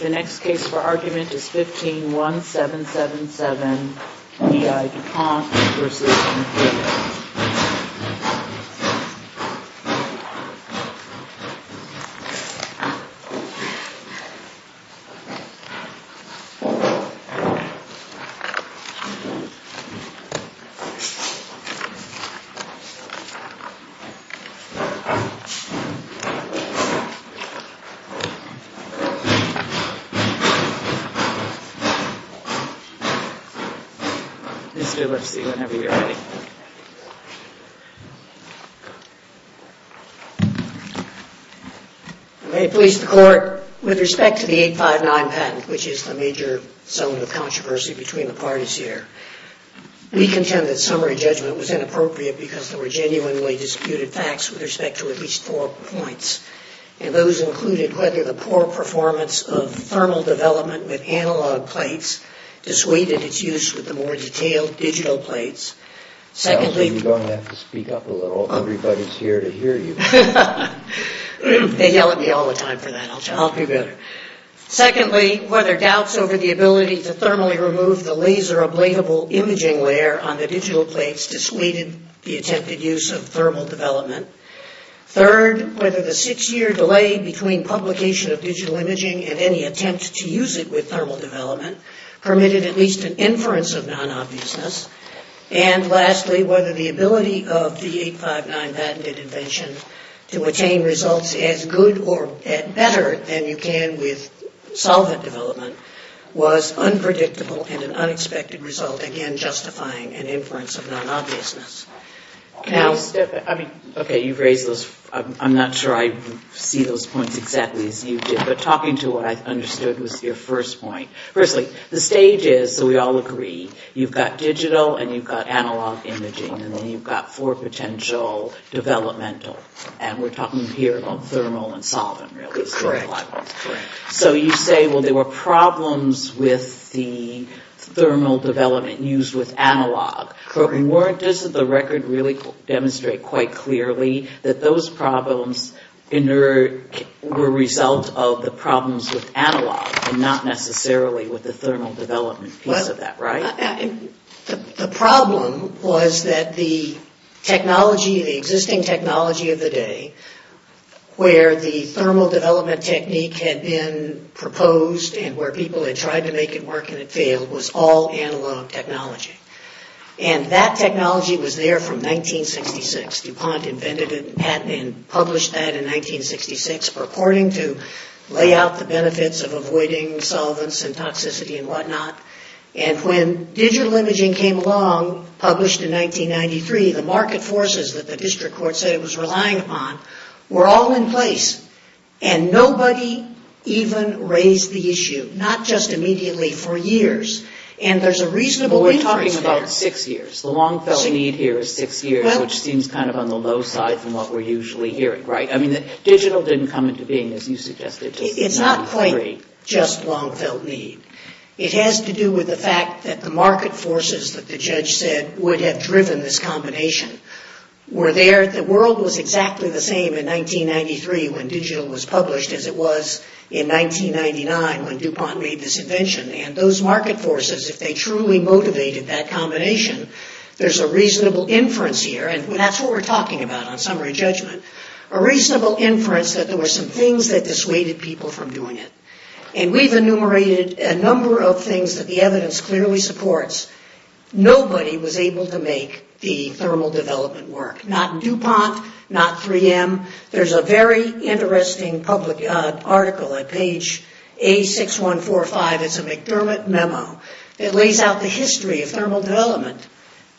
The next case for argument is 15-1777 E.I. du Pont v. MacDermid May it please the Court, with respect to the 859 patent, which is the major zone of controversy between the parties here, we contend that summary judgment was inappropriate because there were genuinely disputed facts with respect to at least four points, and those included whether the poor performance of thermal development with analog plates dissuaded its use with the more detailed digital plates. Secondly, whether doubts over the ability to thermally patented use of thermal development. Third, whether the six-year delay between publication of digital imaging and any attempt to use it with thermal development permitted at least an inference of non-obviousness. And lastly, whether the ability of the 859 patented invention to attain results as good or better than you can with solvent development was unpredictable and an unexpected result, again, justifying an inference of non-obviousness. Okay, you've raised those, I'm not sure I see those points exactly as you did, but talking to what I understood was your first point. Firstly, the stage is, so we all agree, you've got digital and you've got analog imaging, and then you've got four potential developmental, and we're talking here about thermal and solvent, really, so you say, well, there were problems with the thermal development used with analog, but weren't, doesn't the record really demonstrate quite clearly that those problems were a result of the problems with analog and not necessarily with the thermal development piece of that, right? The problem was that the technology, the existing technology of the day, where the thermal development technique had been proposed and where people had tried to make it work and it failed was all analog technology. And that technology was there from 1966. DuPont invented it and published that in 1966 purporting to lay out the benefits of avoiding solvents and toxicity and whatnot. And when digital imaging came along, published in 1993, the market forces that the district court said it was relying upon were all in place, and nobody even raised the issue, not just immediately, for years. And there's a reasonable reason for that. We're talking about six years. The long-felt need here is six years, which seems kind of on the low side from what we're usually hearing, right? I mean, digital didn't come into being, as you suggested, until 1993. It's not quite just long-felt need. It has to do with the fact that the market forces that the judge said would have driven this combination were there. The world was exactly the same in 1993 when digital was published as it was in 1999 when DuPont made this invention. And those market forces, if they truly motivated that combination, there's a reasonable inference here, and that's what we're talking about on summary judgment, a reasonable inference that there were some things that dissuaded people from doing it. And we've enumerated a number of things that the evidence clearly supports. Nobody was able to make the thermal development work, not DuPont, not 3M. There's a very interesting public article at page A6145. It's a McDermott memo. It lays out the history of thermal development.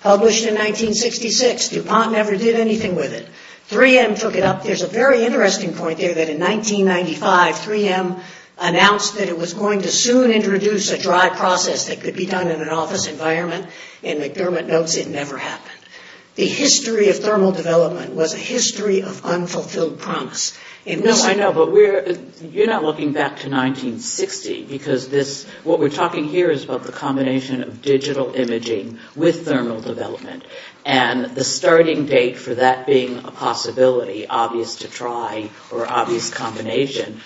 Published in 1966. DuPont never did anything with it. 3M took it up. There's a very interesting point there that in 1995, 3M announced that it was going to soon introduce a dry process that could be done in an office environment, and McDermott notes it never happened. The history of thermal development was a history of unfulfilled promise. No, I know, but you're not looking back to 1960, because what we're talking here is about the combination of digital imaging with thermal development, and the starting date for that being a possibility, obvious to try, or obvious combination,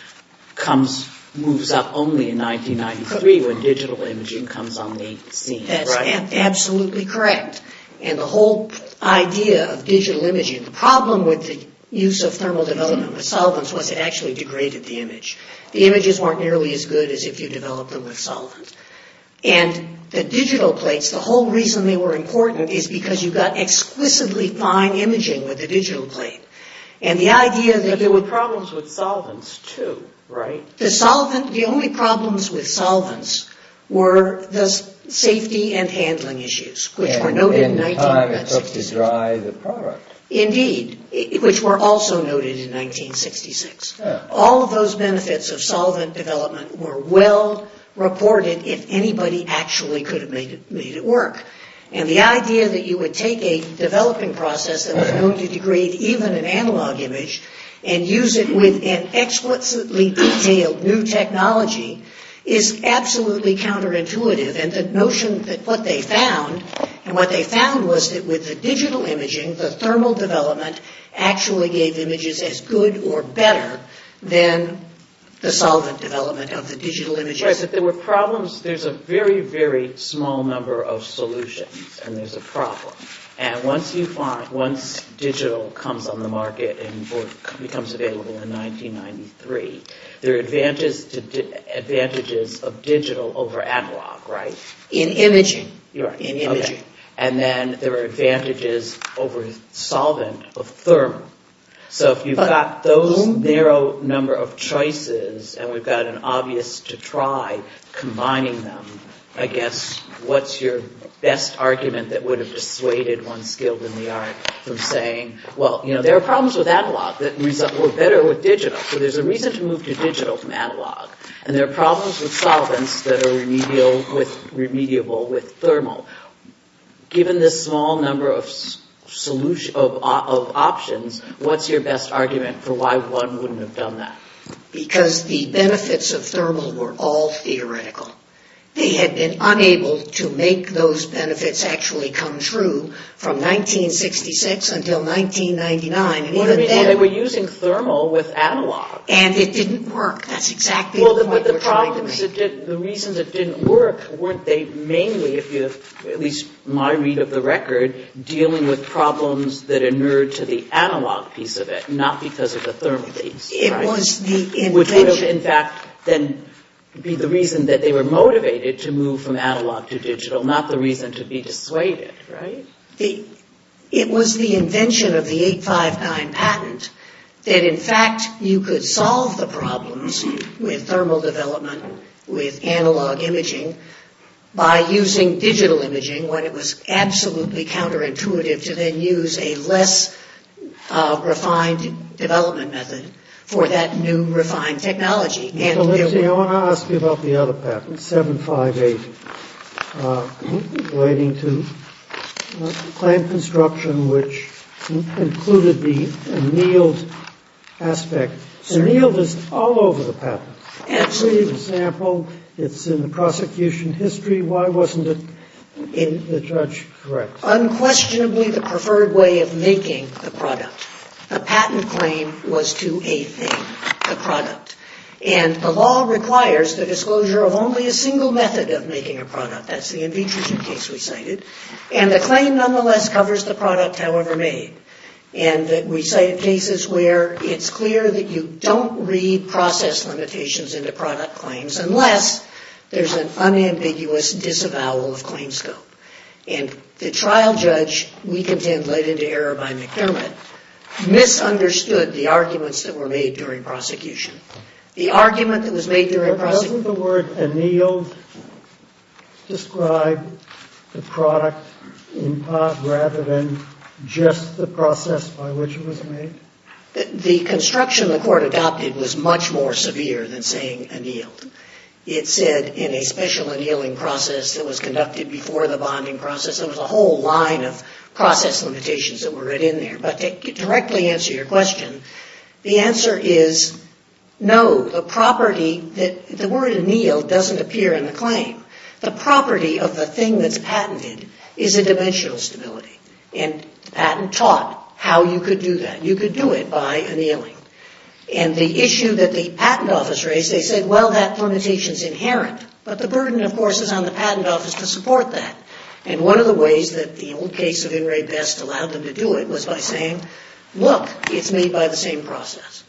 moves up only in 1993 when digital imaging comes on the scene. That's absolutely correct. And the whole idea of digital imaging, the problem with the use of thermal development with solvents was it actually degraded the image. The images weren't nearly as good as if you developed them with solvent. And the digital plates, the whole thing was completely fine imaging with the digital plate. But there were problems with solvents, too, right? The only problems with solvents were the safety and handling issues, which were noted in 1966. And the time it took to dry the product. Indeed, which were also noted in 1966. All of those benefits of solvent development were well reported if anybody actually could have made it work. And the idea that you would take a developing process that was known to degrade even an analog image and use it with an explicitly detailed new technology is absolutely counterintuitive. And the notion that what they found, and what they found was that with the digital imaging, the thermal development actually gave images as good or better than the solvent development of the digital images. But there were problems. There's a very, very small number of solutions. And there's a problem. And once you find, once digital comes on the market and becomes available in 1993, there are advantages of digital over analog, right? In imaging. In imaging. And then there are advantages over solvent of thermal. So if you've got those narrow number of choices, and we've got an obvious to try combining them, I guess what's your best argument that would have dissuaded one skilled in the art from saying, well, you know, there are problems with analog that were better with digital. So there's a reason to move to digital from analog. And there are problems with solvents that are remedial with, remediable with thermal. Given this small number of solutions, of options, what's your best argument for why one wouldn't have done that? Because the benefits of thermal were all theoretical. They had been unable to make those benefits actually come true from 1966 until 1999. Well, they were using thermal with analog. And it didn't work. That's exactly what we're trying to make. The reasons it didn't work, weren't they mainly, at least in my read of the record, dealing with problems that inured to the analog piece of it, not because of the thermal piece, right? It was the invention. Which would, in fact, then be the reason that they were motivated to move from analog to digital, not the reason to be dissuaded, right? It was the invention of the 859 patent that, in fact, you could solve the problems with analog imaging by using digital imaging, when it was absolutely counterintuitive to then use a less refined development method for that new refined technology. Mr. Lipsky, I want to ask you about the other patents, 758 relating to plant construction, which included the annealed aspect. Annealed is all over the patent. Absolutely. For example, it's in the prosecution history. Why wasn't it in the trudge correct? Unquestionably, the preferred way of making the product, the patent claim was to a thing, the product. And the law requires the disclosure of only a single method of making a product. That's the in vitro case we cited. And the claim nonetheless covers the product however made. And we cite cases where it's clear that you don't read process limitations into product claims unless there's an unambiguous disavowal of claim scope. And the trial judge, we contend, led into error by McDermott, misunderstood the arguments that were made during prosecution. The argument that was made during prosecution... But doesn't the word annealed describe the product in part rather than just the process by which it was made? The construction the court adopted was much more severe than saying annealed. It said in a special annealing process that was conducted before the bonding process. There was a whole line of process limitations that were written in there. But to directly answer your question, the answer is no. The property that... The word annealed doesn't appear in the claim. The property of the thing that's patented is a dimensional stability. And the patent taught how you could do that. You could do it by annealing. And the issue that the patent office raised, they said, well, that limitation's inherent. But the burden, of course, is on the patent office to support that. And one of the ways that the old case of In re Best allowed them to do it was by saying, look, it's made by the same process.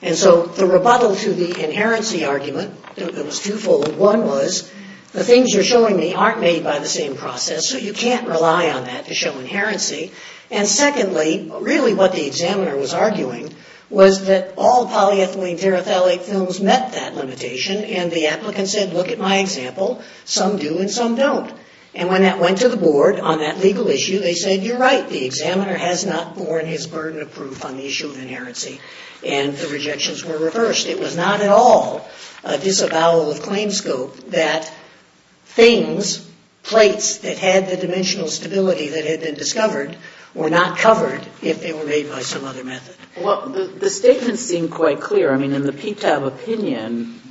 And so the rebuttal to the inherency argument, it was twofold. One was, the things you're showing me aren't made by the same process, so you can't rely on that to show inherency. And secondly, really what the examiner was arguing was that all polyethylene terephthalate films met that limitation. And the applicant said, look at my example. Some do and some don't. And when that went to the board on that legal issue, they said, you're right. The examiner has not borne his burden of proof on the issue of inherency. And the rejections were reversed. It was not at all a disavowal of claim scope that things, plates that had the dimensional stability that had been discovered were not covered if they were made by some other method. The statements seem quite clear. I mean, in the PTAB opinion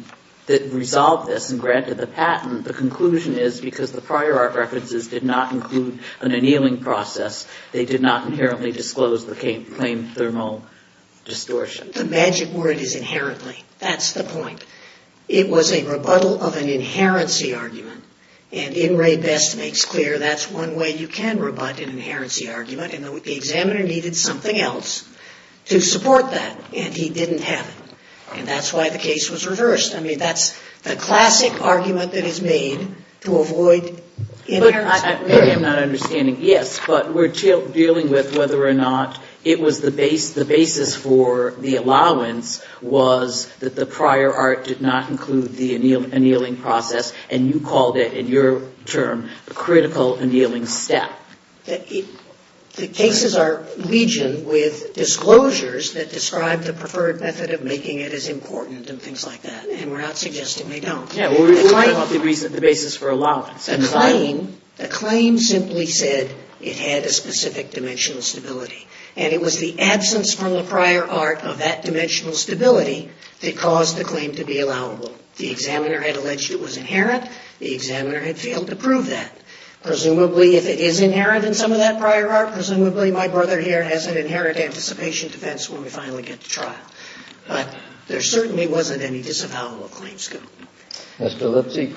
that resolved this and granted the patent, the conclusion is because the prior art references did not include an annealing process, they did not inherently disclose the claim thermal distortion. The magic word is inherently. That's the point. It was a rebuttal of an inherency argument. And In Re Best makes clear that's one way you can rebut an inherency argument. And the examiner needed something else to support that. And he didn't have it. And that's why the case was reversed. I mean, that's the classic argument that is made to avoid inherency. Maybe I'm not understanding. Yes, but we're dealing with whether or not it was the basis for the allowance was that the prior art did not include the annealing process. And you called it, in your term, a critical annealing step. The cases are legion with disclosures that describe the preferred method of making it as important and things like that. And we're not suggesting they don't. Yeah, well, we were talking about the basis for allowance. The claim simply said it had a specific dimensional stability. And it was the absence from the prior art of that dimensional stability that caused the claim to be allowable. The examiner had alleged it was inherent. The examiner had failed to prove that. Presumably, if it is inherent in some of that prior art, presumably my brother here has an inherent anticipation defense when we finally get to trial. But there certainly wasn't any disavowal of claims. Mr. Lipsey,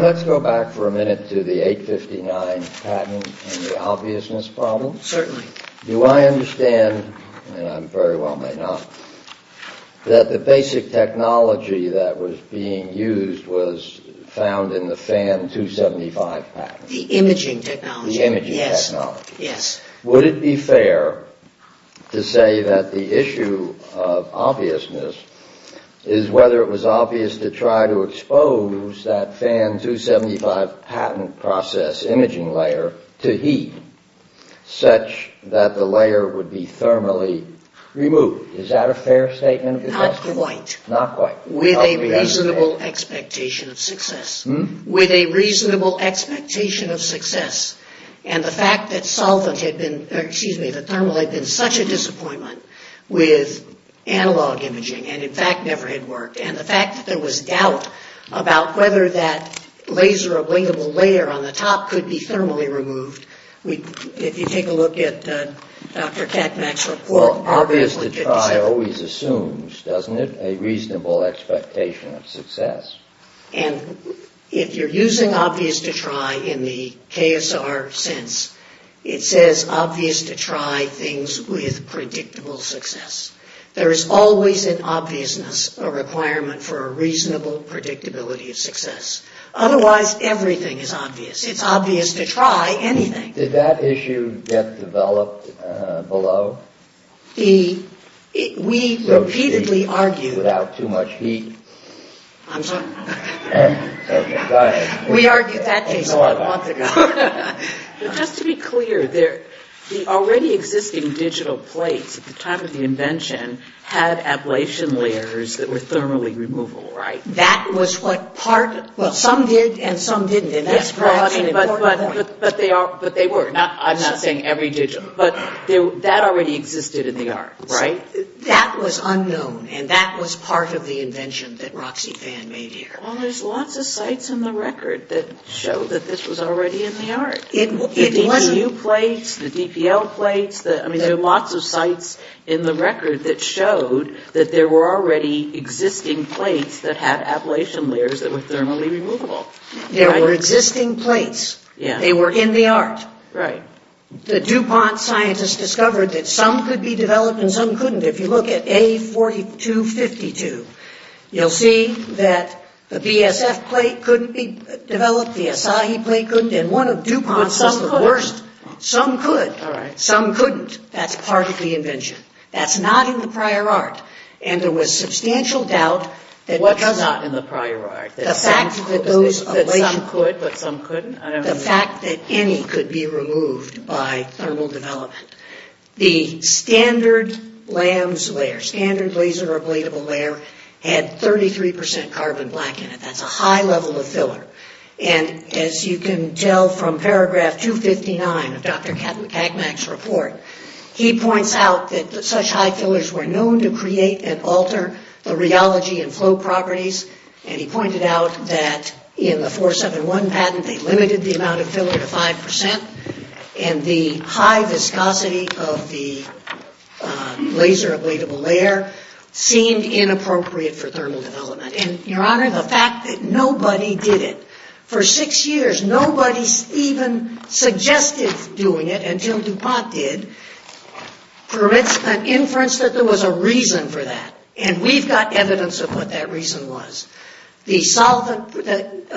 let's go back for a minute to the 859 patent and the obviousness problem. Certainly. Do I understand, and I very well may not, that the basic technology that was being used was found in the FAN 275 patent? The imaging technology. The imaging technology. Yes. Would it be fair to say that the issue of obviousness is whether it was obvious to try to expose that FAN 275 patent process imaging layer to heat such that the layer would be thermally removed? Is that a fair statement? Not quite. Not quite. With a reasonable expectation of success. With a reasonable expectation of success. And the fact that solvent had been, or excuse me, that thermal had been such a disappointment with analog imaging, and in fact never had worked. And the fact that there was doubt about whether that laser ablingable layer on the top could be thermally removed, if you take a look at Dr. Catmack's report, obviously could be so. Obvious to try always assumes, doesn't it, a reasonable expectation of success. And if you're using obvious to try in the KSR sense, it says obvious to try things with predictable success. There is always an obviousness, a requirement for a reasonable predictability of success. Otherwise, everything is obvious. It's obvious to try anything. Did that issue get developed below? We repeatedly argued. Without too much heat. I'm sorry. We argued that case a month ago. Just to be clear, the already existing digital plates at the time of the invention had ablation layers that were thermally removable, right? That was what part, well, some did and some didn't, and that's an important point. But they were. I'm not saying every digital. But that already existed in the arts, right? That was unknown, and that was part of the invention that Roxy Fan made here. Well, there's lots of sites in the record that show that this was already in the art. The DPU plates, the DPL plates, I mean, there are lots of sites in the record that showed that there were already existing plates that had ablation layers that were thermally removable. There were existing plates. They were in the art. The DuPont scientists discovered that some could be developed and some couldn't. If you look at A4252, you'll see that the BSF plate couldn't be developed, the Asahi plate couldn't, and one of DuPont's was the worst. Some could. Some couldn't. That's part of the invention. That's not in the prior art. And there was substantial doubt that what does not in the prior art, the fact that those ablation. Some could, but some couldn't? I don't know. The fact that any could be removed by thermal development. The standard LAMS layer, standard laser ablatable layer, had 33% carbon black in it. That's a high level of filler. And as you can tell from paragraph 259 of Dr. Cagmack's report, he points out that such high fillers were known to create and alter the rheology and flow properties, and he pointed out that in the 471 patent, they limited the amount of filler to 5%. And the high viscosity of the laser ablatable layer seemed inappropriate for thermal development. And your honor, the fact that nobody did it, for six years, nobody even suggested doing it until DuPont did, permits an inference that there was a reason for that. And we've got evidence of what that reason was. The solvent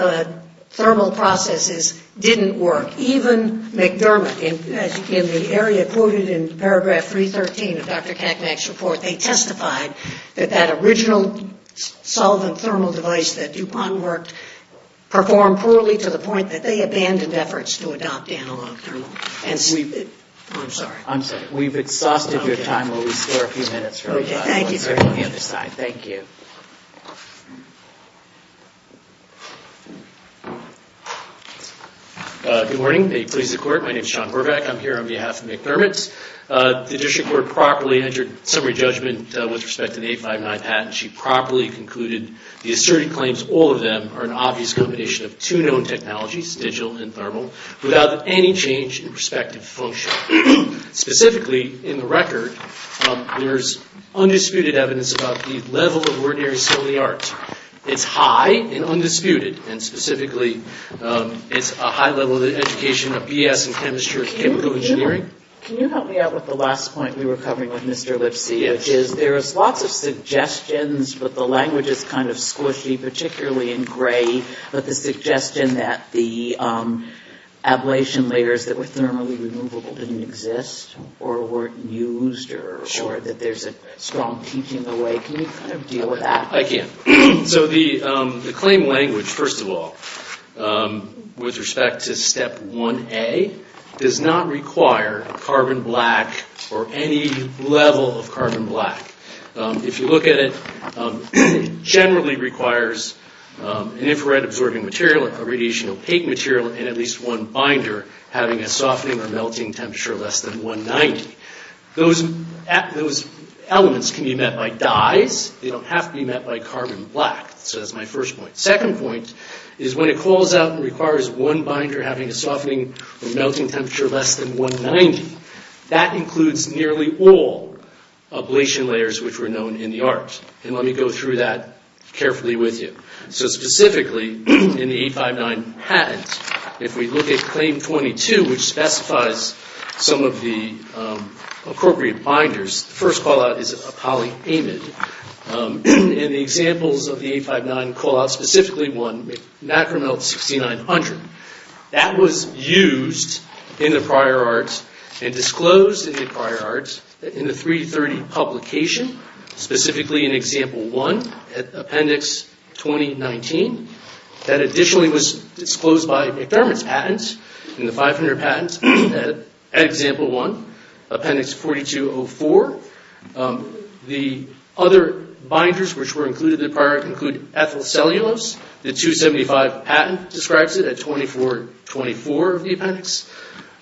thermal processes didn't work. Even McDermott, in the area quoted in paragraph 313 of Dr. Cagmack's report, they testified that that original solvent thermal device that DuPont worked performed poorly to the point that they abandoned efforts to adopt analog thermal. I'm sorry. I'm sorry. We've exhausted your time. Will we spare a few minutes? Okay. Thank you. Good morning. May it please the court, my name is Sean Horvath, I'm here on behalf of McDermott. The district court properly entered summary judgment with respect to the 859 patent. She properly concluded the asserted claims, all of them, are an obvious combination of two known technologies, digital and thermal, without any change in prospective function. Specifically, in the record, there's undisputed evidence about the level of ordinary solid art. It's high and undisputed. And specifically, it's a high level of education of B.S. in chemistry and chemical engineering. Can you help me out with the last point we were covering with Mr. Lipsy, which is there is lots of suggestions, but the language is kind of squishy, particularly in gray, but the suggestion that the ablation layers that were thermally removable didn't exist, or weren't used, or that there's a strong teaching away, can you kind of deal with that? I can. So the claim language, first of all, with respect to step 1A, does not require a carbon black or any level of carbon black. If you look at it, it generally requires an infrared absorbing material, a radiation opaque material, and at least one binder having a softening or melting temperature less than 190. Those elements can be met by dyes, they don't have to be met by carbon black, so that's my first point. Second point is when it calls out and requires one binder having a softening or melting temperature less than 190, that includes nearly all ablation layers which were known in the art. And let me go through that carefully with you. So specifically, in the 859 patents, if we look at claim 22, which specifies some of the appropriate binders, the first callout is a polyamide, and the examples of the 859 callouts, specifically one, macromelt 6900, that was used in the prior arts and disclosed in the prior arts in the 330 publication, specifically in example 1, appendix 2019, that additionally was disclosed by McDermott's patent in the 500 patent at example 1, appendix 4204. The other binders which were included in the prior art include ethyl cellulose, the 275 patent describes it at 2424 of the appendix.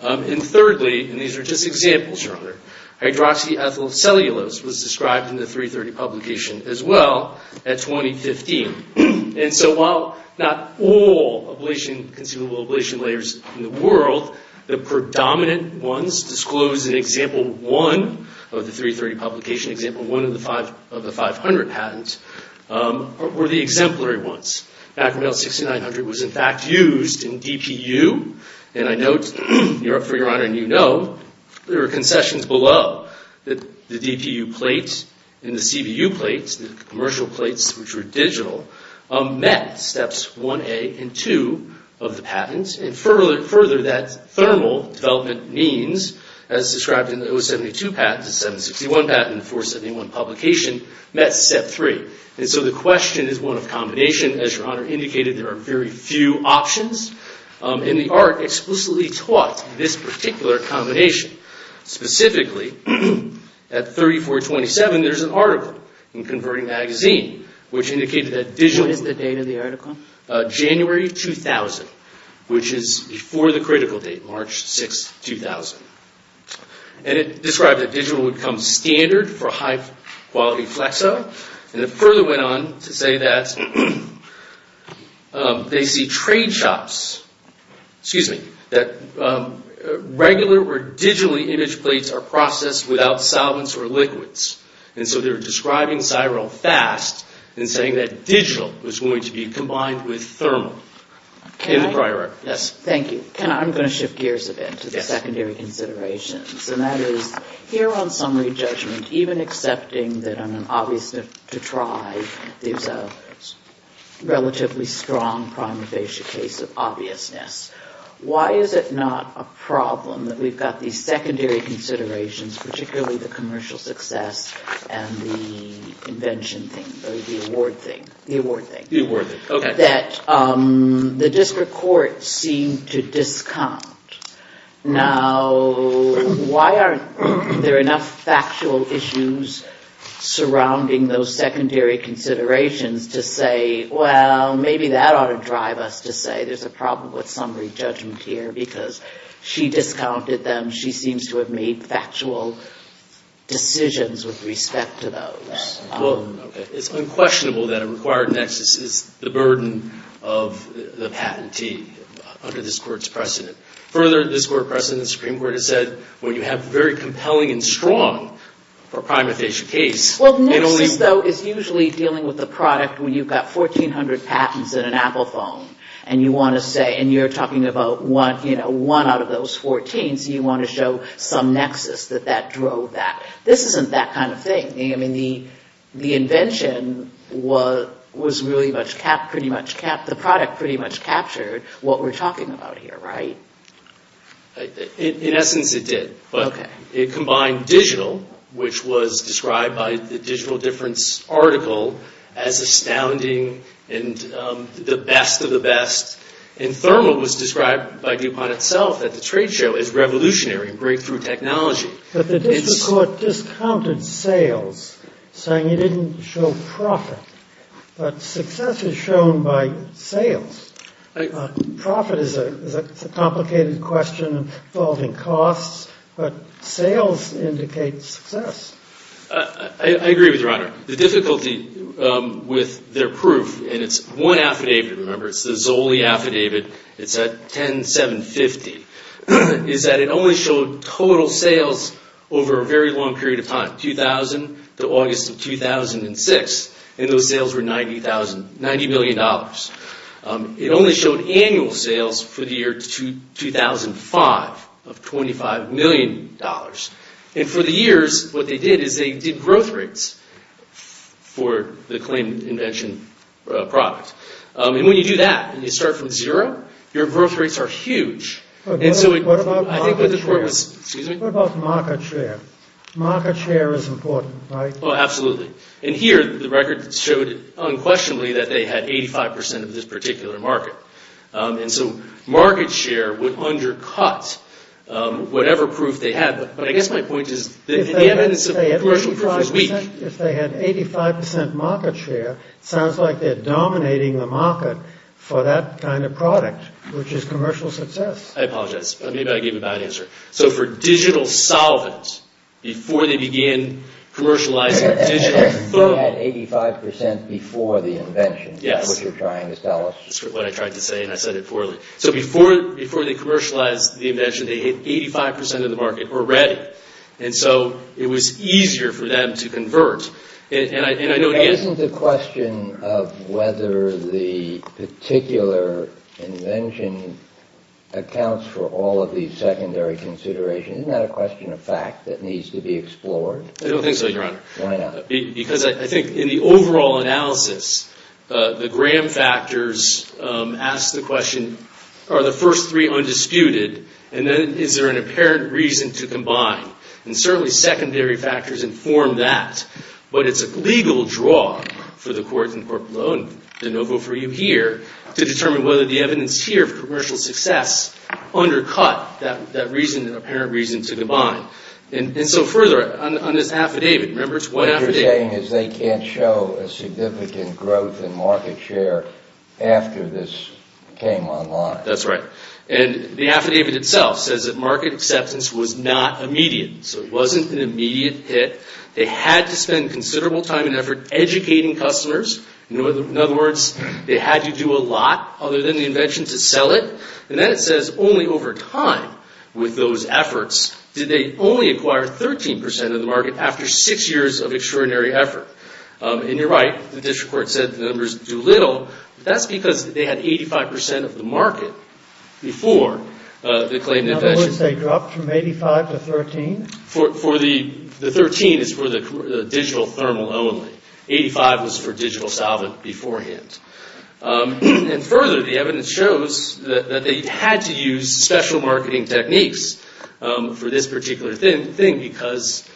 And thirdly, and these are just examples, your honor, hydroxyethyl cellulose was described in the 330 publication as well at 2015. And so while not all conceivable ablation layers in the world, the predominant ones disclosed in example 1 of the 330 publication, example 1 of the 500 patent, were the exemplary ones. Macromelt 6900 was in fact used in DPU, and I note, for your honor, and you know, there are concessions below that the DPU plates and the CVU plates, the commercial plates which were digital, met steps 1A and 2 of the patent, and further that thermal development means as described in the 072 patent, the 761 patent, 471 publication, met step 3. And so the question is one of combination, as your honor indicated, there are very few options, and the art explicitly taught this particular combination, specifically, at 3427 there's an article in Converting Magazine which indicated that digital... What is the date of the article? January 2000, which is before the critical date, March 6, 2000. And it described that digital would become standard for high quality flexo, and it further went on to say that they see trade shops, excuse me, that regular or digitally imaged plates are processed without solvents or liquids. And so they're describing SIREL fast, and saying that digital was going to be combined with thermal, in the prior article. Thank you. I'm going to shift gears a bit to the secondary considerations, and that is, here on summary judgment, even accepting that on an obviousness to try, there's a relatively strong prime of basic case of obviousness. Why is it not a problem that we've got these secondary considerations, particularly the commercial success and the invention thing, or the award thing? The award thing. The award thing, okay. That the district court seemed to discount. Now, why aren't there enough factual issues surrounding those secondary considerations to say, well, maybe that ought to drive us to say there's a problem with summary judgment here, because she discounted them. She seems to have made factual decisions with respect to those. Well, okay. It's unquestionable that a required nexus is the burden of the patentee under this court's precedent. Further, this court precedent, the Supreme Court has said, when you have very compelling and strong for a prime of basic case, it only... Well, nexus, though, is usually dealing with the product when you've got 1,400 patents in an Apple phone, and you want to say, and you're talking about one out of those 14, so you want to show some nexus that that drove that. This isn't that kind of thing. The invention was really pretty much... The product pretty much captured what we're talking about here, right? In essence, it did, but it combined digital, which was described by the Digital Difference article as astounding and the best of the best, and thermal was described by DuPont itself at the trade show as revolutionary and breakthrough technology. But the district court discounted sales, saying it didn't show profit, but success is shown by sales. Profit is a complicated question involving costs, but sales indicates success. I agree with Your Honor. The difficulty with their proof, and it's one affidavit, remember, it's the Zoli affidavit, it's at 10,750, is that it only showed total sales over a very long period of time, 2000 to August of 2006, and those sales were $90 million. It only showed annual sales for the year 2005 of $25 million, and for the years, what they did is they did growth rates for the claimed invention product, and when you do that, and you start from zero, your growth rates are huge. What about market share? Market share is important, right? Oh, absolutely. And here, the record showed unquestionably that they had 85% of this particular market. And so market share would undercut whatever proof they had, but I guess my point is that the evidence of commercial proof is weak. If they had 85% market share, it sounds like they're dominating the market for that kind of product, which is commercial success. I apologize. Maybe I gave a bad answer. So for digital solvent, before they began commercializing digital foam... They had 85% before the invention, which you're trying to tell us. That's what I tried to say, and I said it poorly. So before they commercialized the invention, they had 85% of the market already, and so it was easier for them to convert. And I know... Isn't the question of whether the particular invention accounts for all of these secondary considerations, isn't that a question of fact that needs to be explored? I don't think so, Your Honor. Why not? Because I think in the overall analysis, the Graham factors ask the question, are the first three undisputed, and then is there an apparent reason to combine? And certainly secondary factors inform that, but it's a legal draw for the court and the corporate law, and De Novo for you here, to determine whether the evidence here of commercial success undercut that reason, an apparent reason to combine. And so further, on this affidavit, remember, it's one affidavit... What you're saying is they can't show a significant growth in market share after this came online. That's right. And the affidavit itself says that market acceptance was not immediate. So it wasn't an immediate hit. They had to spend considerable time and effort educating customers. In other words, they had to do a lot other than the invention to sell it. And then it says only over time with those efforts did they only acquire 13% of the market after six years of extraordinary effort. And you're right, the district court said the numbers do little, but that's because they had 85% of the market before the claim... In other words, they dropped from 85% to 13%? For the 13% is for the digital thermal only. 85% was for digital solvent beforehand. And further, the evidence shows that they had to use special marketing techniques for this particular thing, because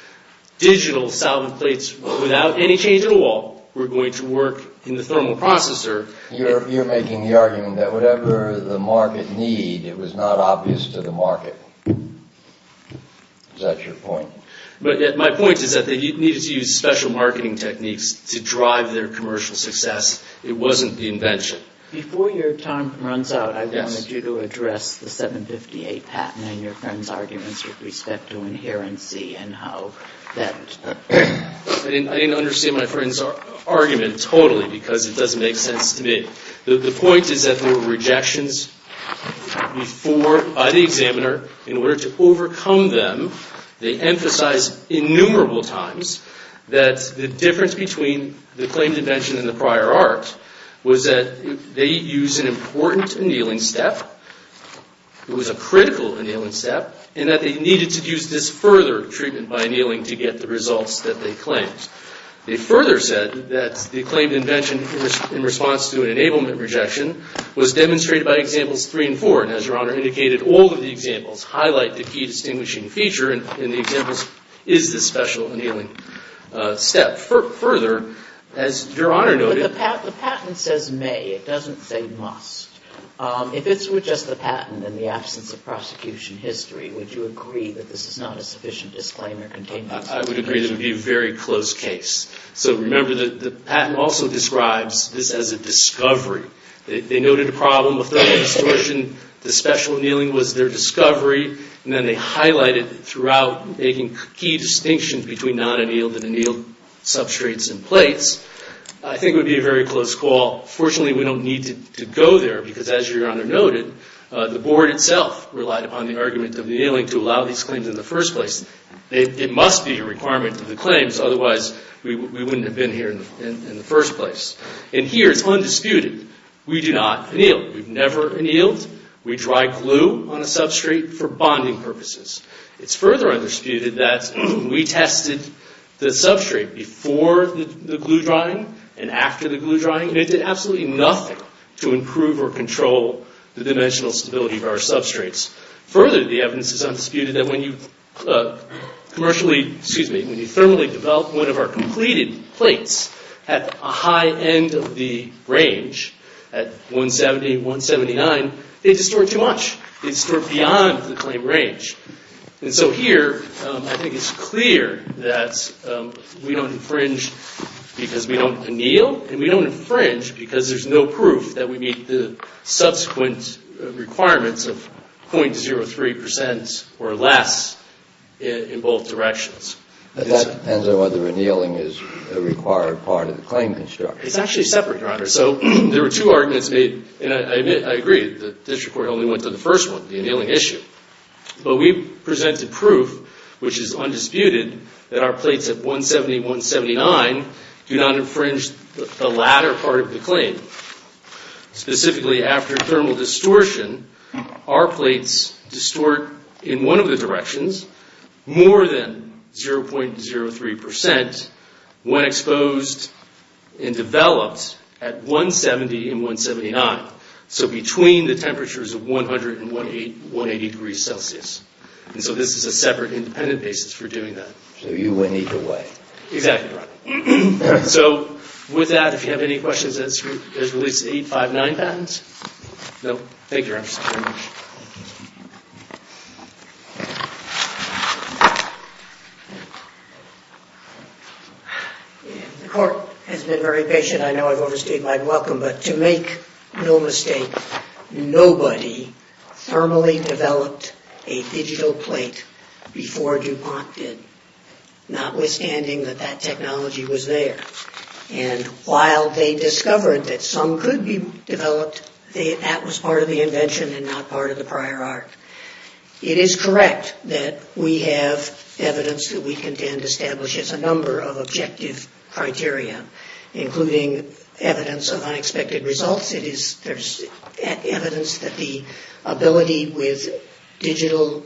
digital solvent plates, without any change in the wall, were going to work in the thermal processor. You're making the argument that whatever the market need, it was not obvious to the market. Is that your point? But my point is that they needed to use special marketing techniques to drive their commercial success. It wasn't the invention. Before your time runs out, I wanted you to address the 758 patent and your friend's arguments with respect to inherency and how that... I didn't understand my friend's argument totally, because it doesn't make sense to me. The point is that there were rejections before by the examiner in order to overcome them. They emphasized innumerable times that the difference between the claimed invention and the prior art was that they used an important annealing step. It was a critical annealing step, and that they needed to use this further treatment by annealing to get the results that they claimed. They further said that the claimed invention in response to an enablement rejection was demonstrated by examples three and four, and as your Honor indicated, all of the examples highlight the key distinguishing feature in the examples is this special annealing step. Further, as your Honor noted... But the patent says may. It doesn't say must. If it were just the patent and the absence of prosecution history, would you agree that this is not a sufficient disclaimer? I would agree that it would be a very close case. Remember that the patent also describes this as a discovery. They noted a problem with the distortion. The special annealing was their discovery, and then they highlighted throughout making key distinctions between non-annealed and annealed substrates and plates. I think it would be a very close call. Fortunately, we don't need to go there, because as your Honor noted, the board itself relied on the argument of annealing to allow these claims in the first place. It must be a requirement of the claims, otherwise we wouldn't have been here in the first place. And here it's undisputed. We do not anneal. We've never annealed. We dry glue on a substrate for bonding purposes. It's further undisputed that we tested the substrate before the glue drying and after the glue drying, and it did absolutely nothing to improve or control the dimensional stability of our substrates. Further, the evidence is undisputed that when you thermally develop one of our completed plates at a high end of the range, at 170, 179, they distort too much. They distort beyond the claimed range. And so here, I think it's clear that we don't infringe because we don't anneal, and we don't infringe because there's no proof that we meet the subsequent requirements of 0.03% or less in both directions. But that depends on whether annealing is a required part of the claim, I'm sure. It's actually separate, Your Honor. So there were two arguments made, and I agree, the district court only went to the first one, the annealing issue. But we presented proof, which is undisputed, that our plates at 170, 179 do not infringe the latter part of the claim. Specifically, after thermal distortion, our plates distort in one of the directions more than 0.03% when exposed and developed at 170 and 179. So between the temperatures of 100 and 180 degrees Celsius. And so this is a separate independent basis for doing that. So you win either way. Exactly, Your Honor. So with that, if you have any questions, there's at least eight, five, nine patents? No? Thank you, Your Honor. The court has been very patient. I know I've overstayed my welcome. But to make no mistake, nobody thermally developed a digital plate before DuPont did. Notwithstanding that that technology was there. And while they discovered that some could be developed, that was part of the invention and not part of the prior art. It is correct that we have evidence that we contend establishes a number of objective criteria, including evidence of unexpected results. There's evidence that the ability with digital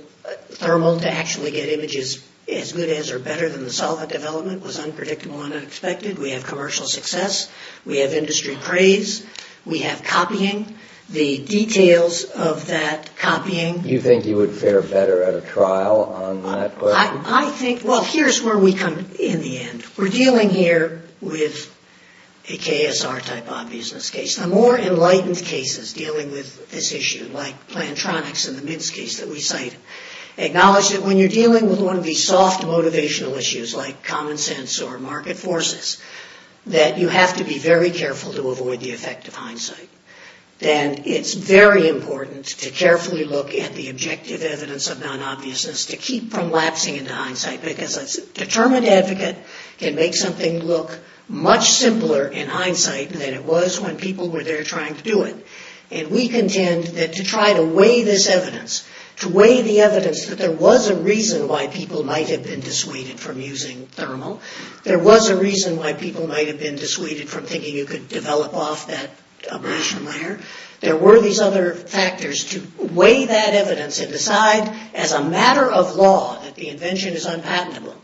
thermal to actually get images as good as or better than the solvent development was unpredictable and unexpected. We have commercial success. We have industry praise. We have copying. The details of that copying. You think you would fare better at a trial on that question? I think, well, here's where we come in the end. We're dealing here with a KSR type of business case. The more enlightened cases dealing with this issue, like Plantronics and the Mintz case that we cite, acknowledge that when you're dealing with one of these soft motivational issues, like common sense or market forces, that you have to be very careful to avoid the effect of hindsight. And it's very important to carefully look at the objective evidence of non-obviousness to keep from lapsing into hindsight. Because a determined advocate can make something look much simpler in hindsight than it was when people were there trying to do it. And we contend that to try to weigh this evidence, to weigh the evidence that there was a reason why people might have been dissuaded from using thermal, there was a reason why people might have been dissuaded from thinking you could develop off that abrasion layer, there were these other factors to weigh that evidence and decide, as a matter of law, that the invention is unpatentable,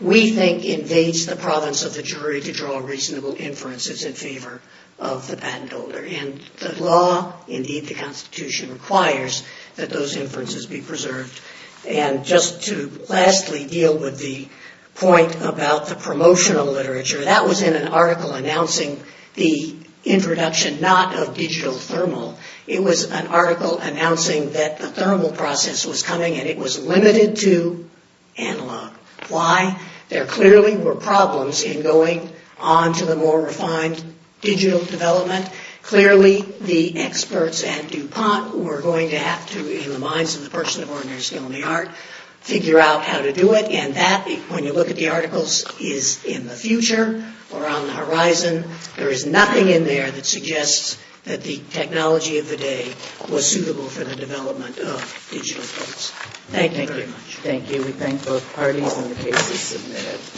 we think invades the province of the jury to draw reasonable inferences in favor of the patent holder. And the law, indeed the Constitution, requires that those inferences be preserved. And just to lastly deal with the point about the promotional literature, that was in an article announcing the introduction not of digital thermal, it was an article announcing that the thermal process was coming and it was limited to analog. Why? There clearly were problems in going on to the more refined digital development. Clearly the experts at DuPont were going to have to, in the minds of the person of ordinary skill in the art, figure out how to do it. And that, when you look at the articles, is in the future or on the horizon. There is nothing in there that suggests that the technology of the day was suitable for the development of digital thermals. Thank you very much. Thank you. We thank both parties and the case is submitted.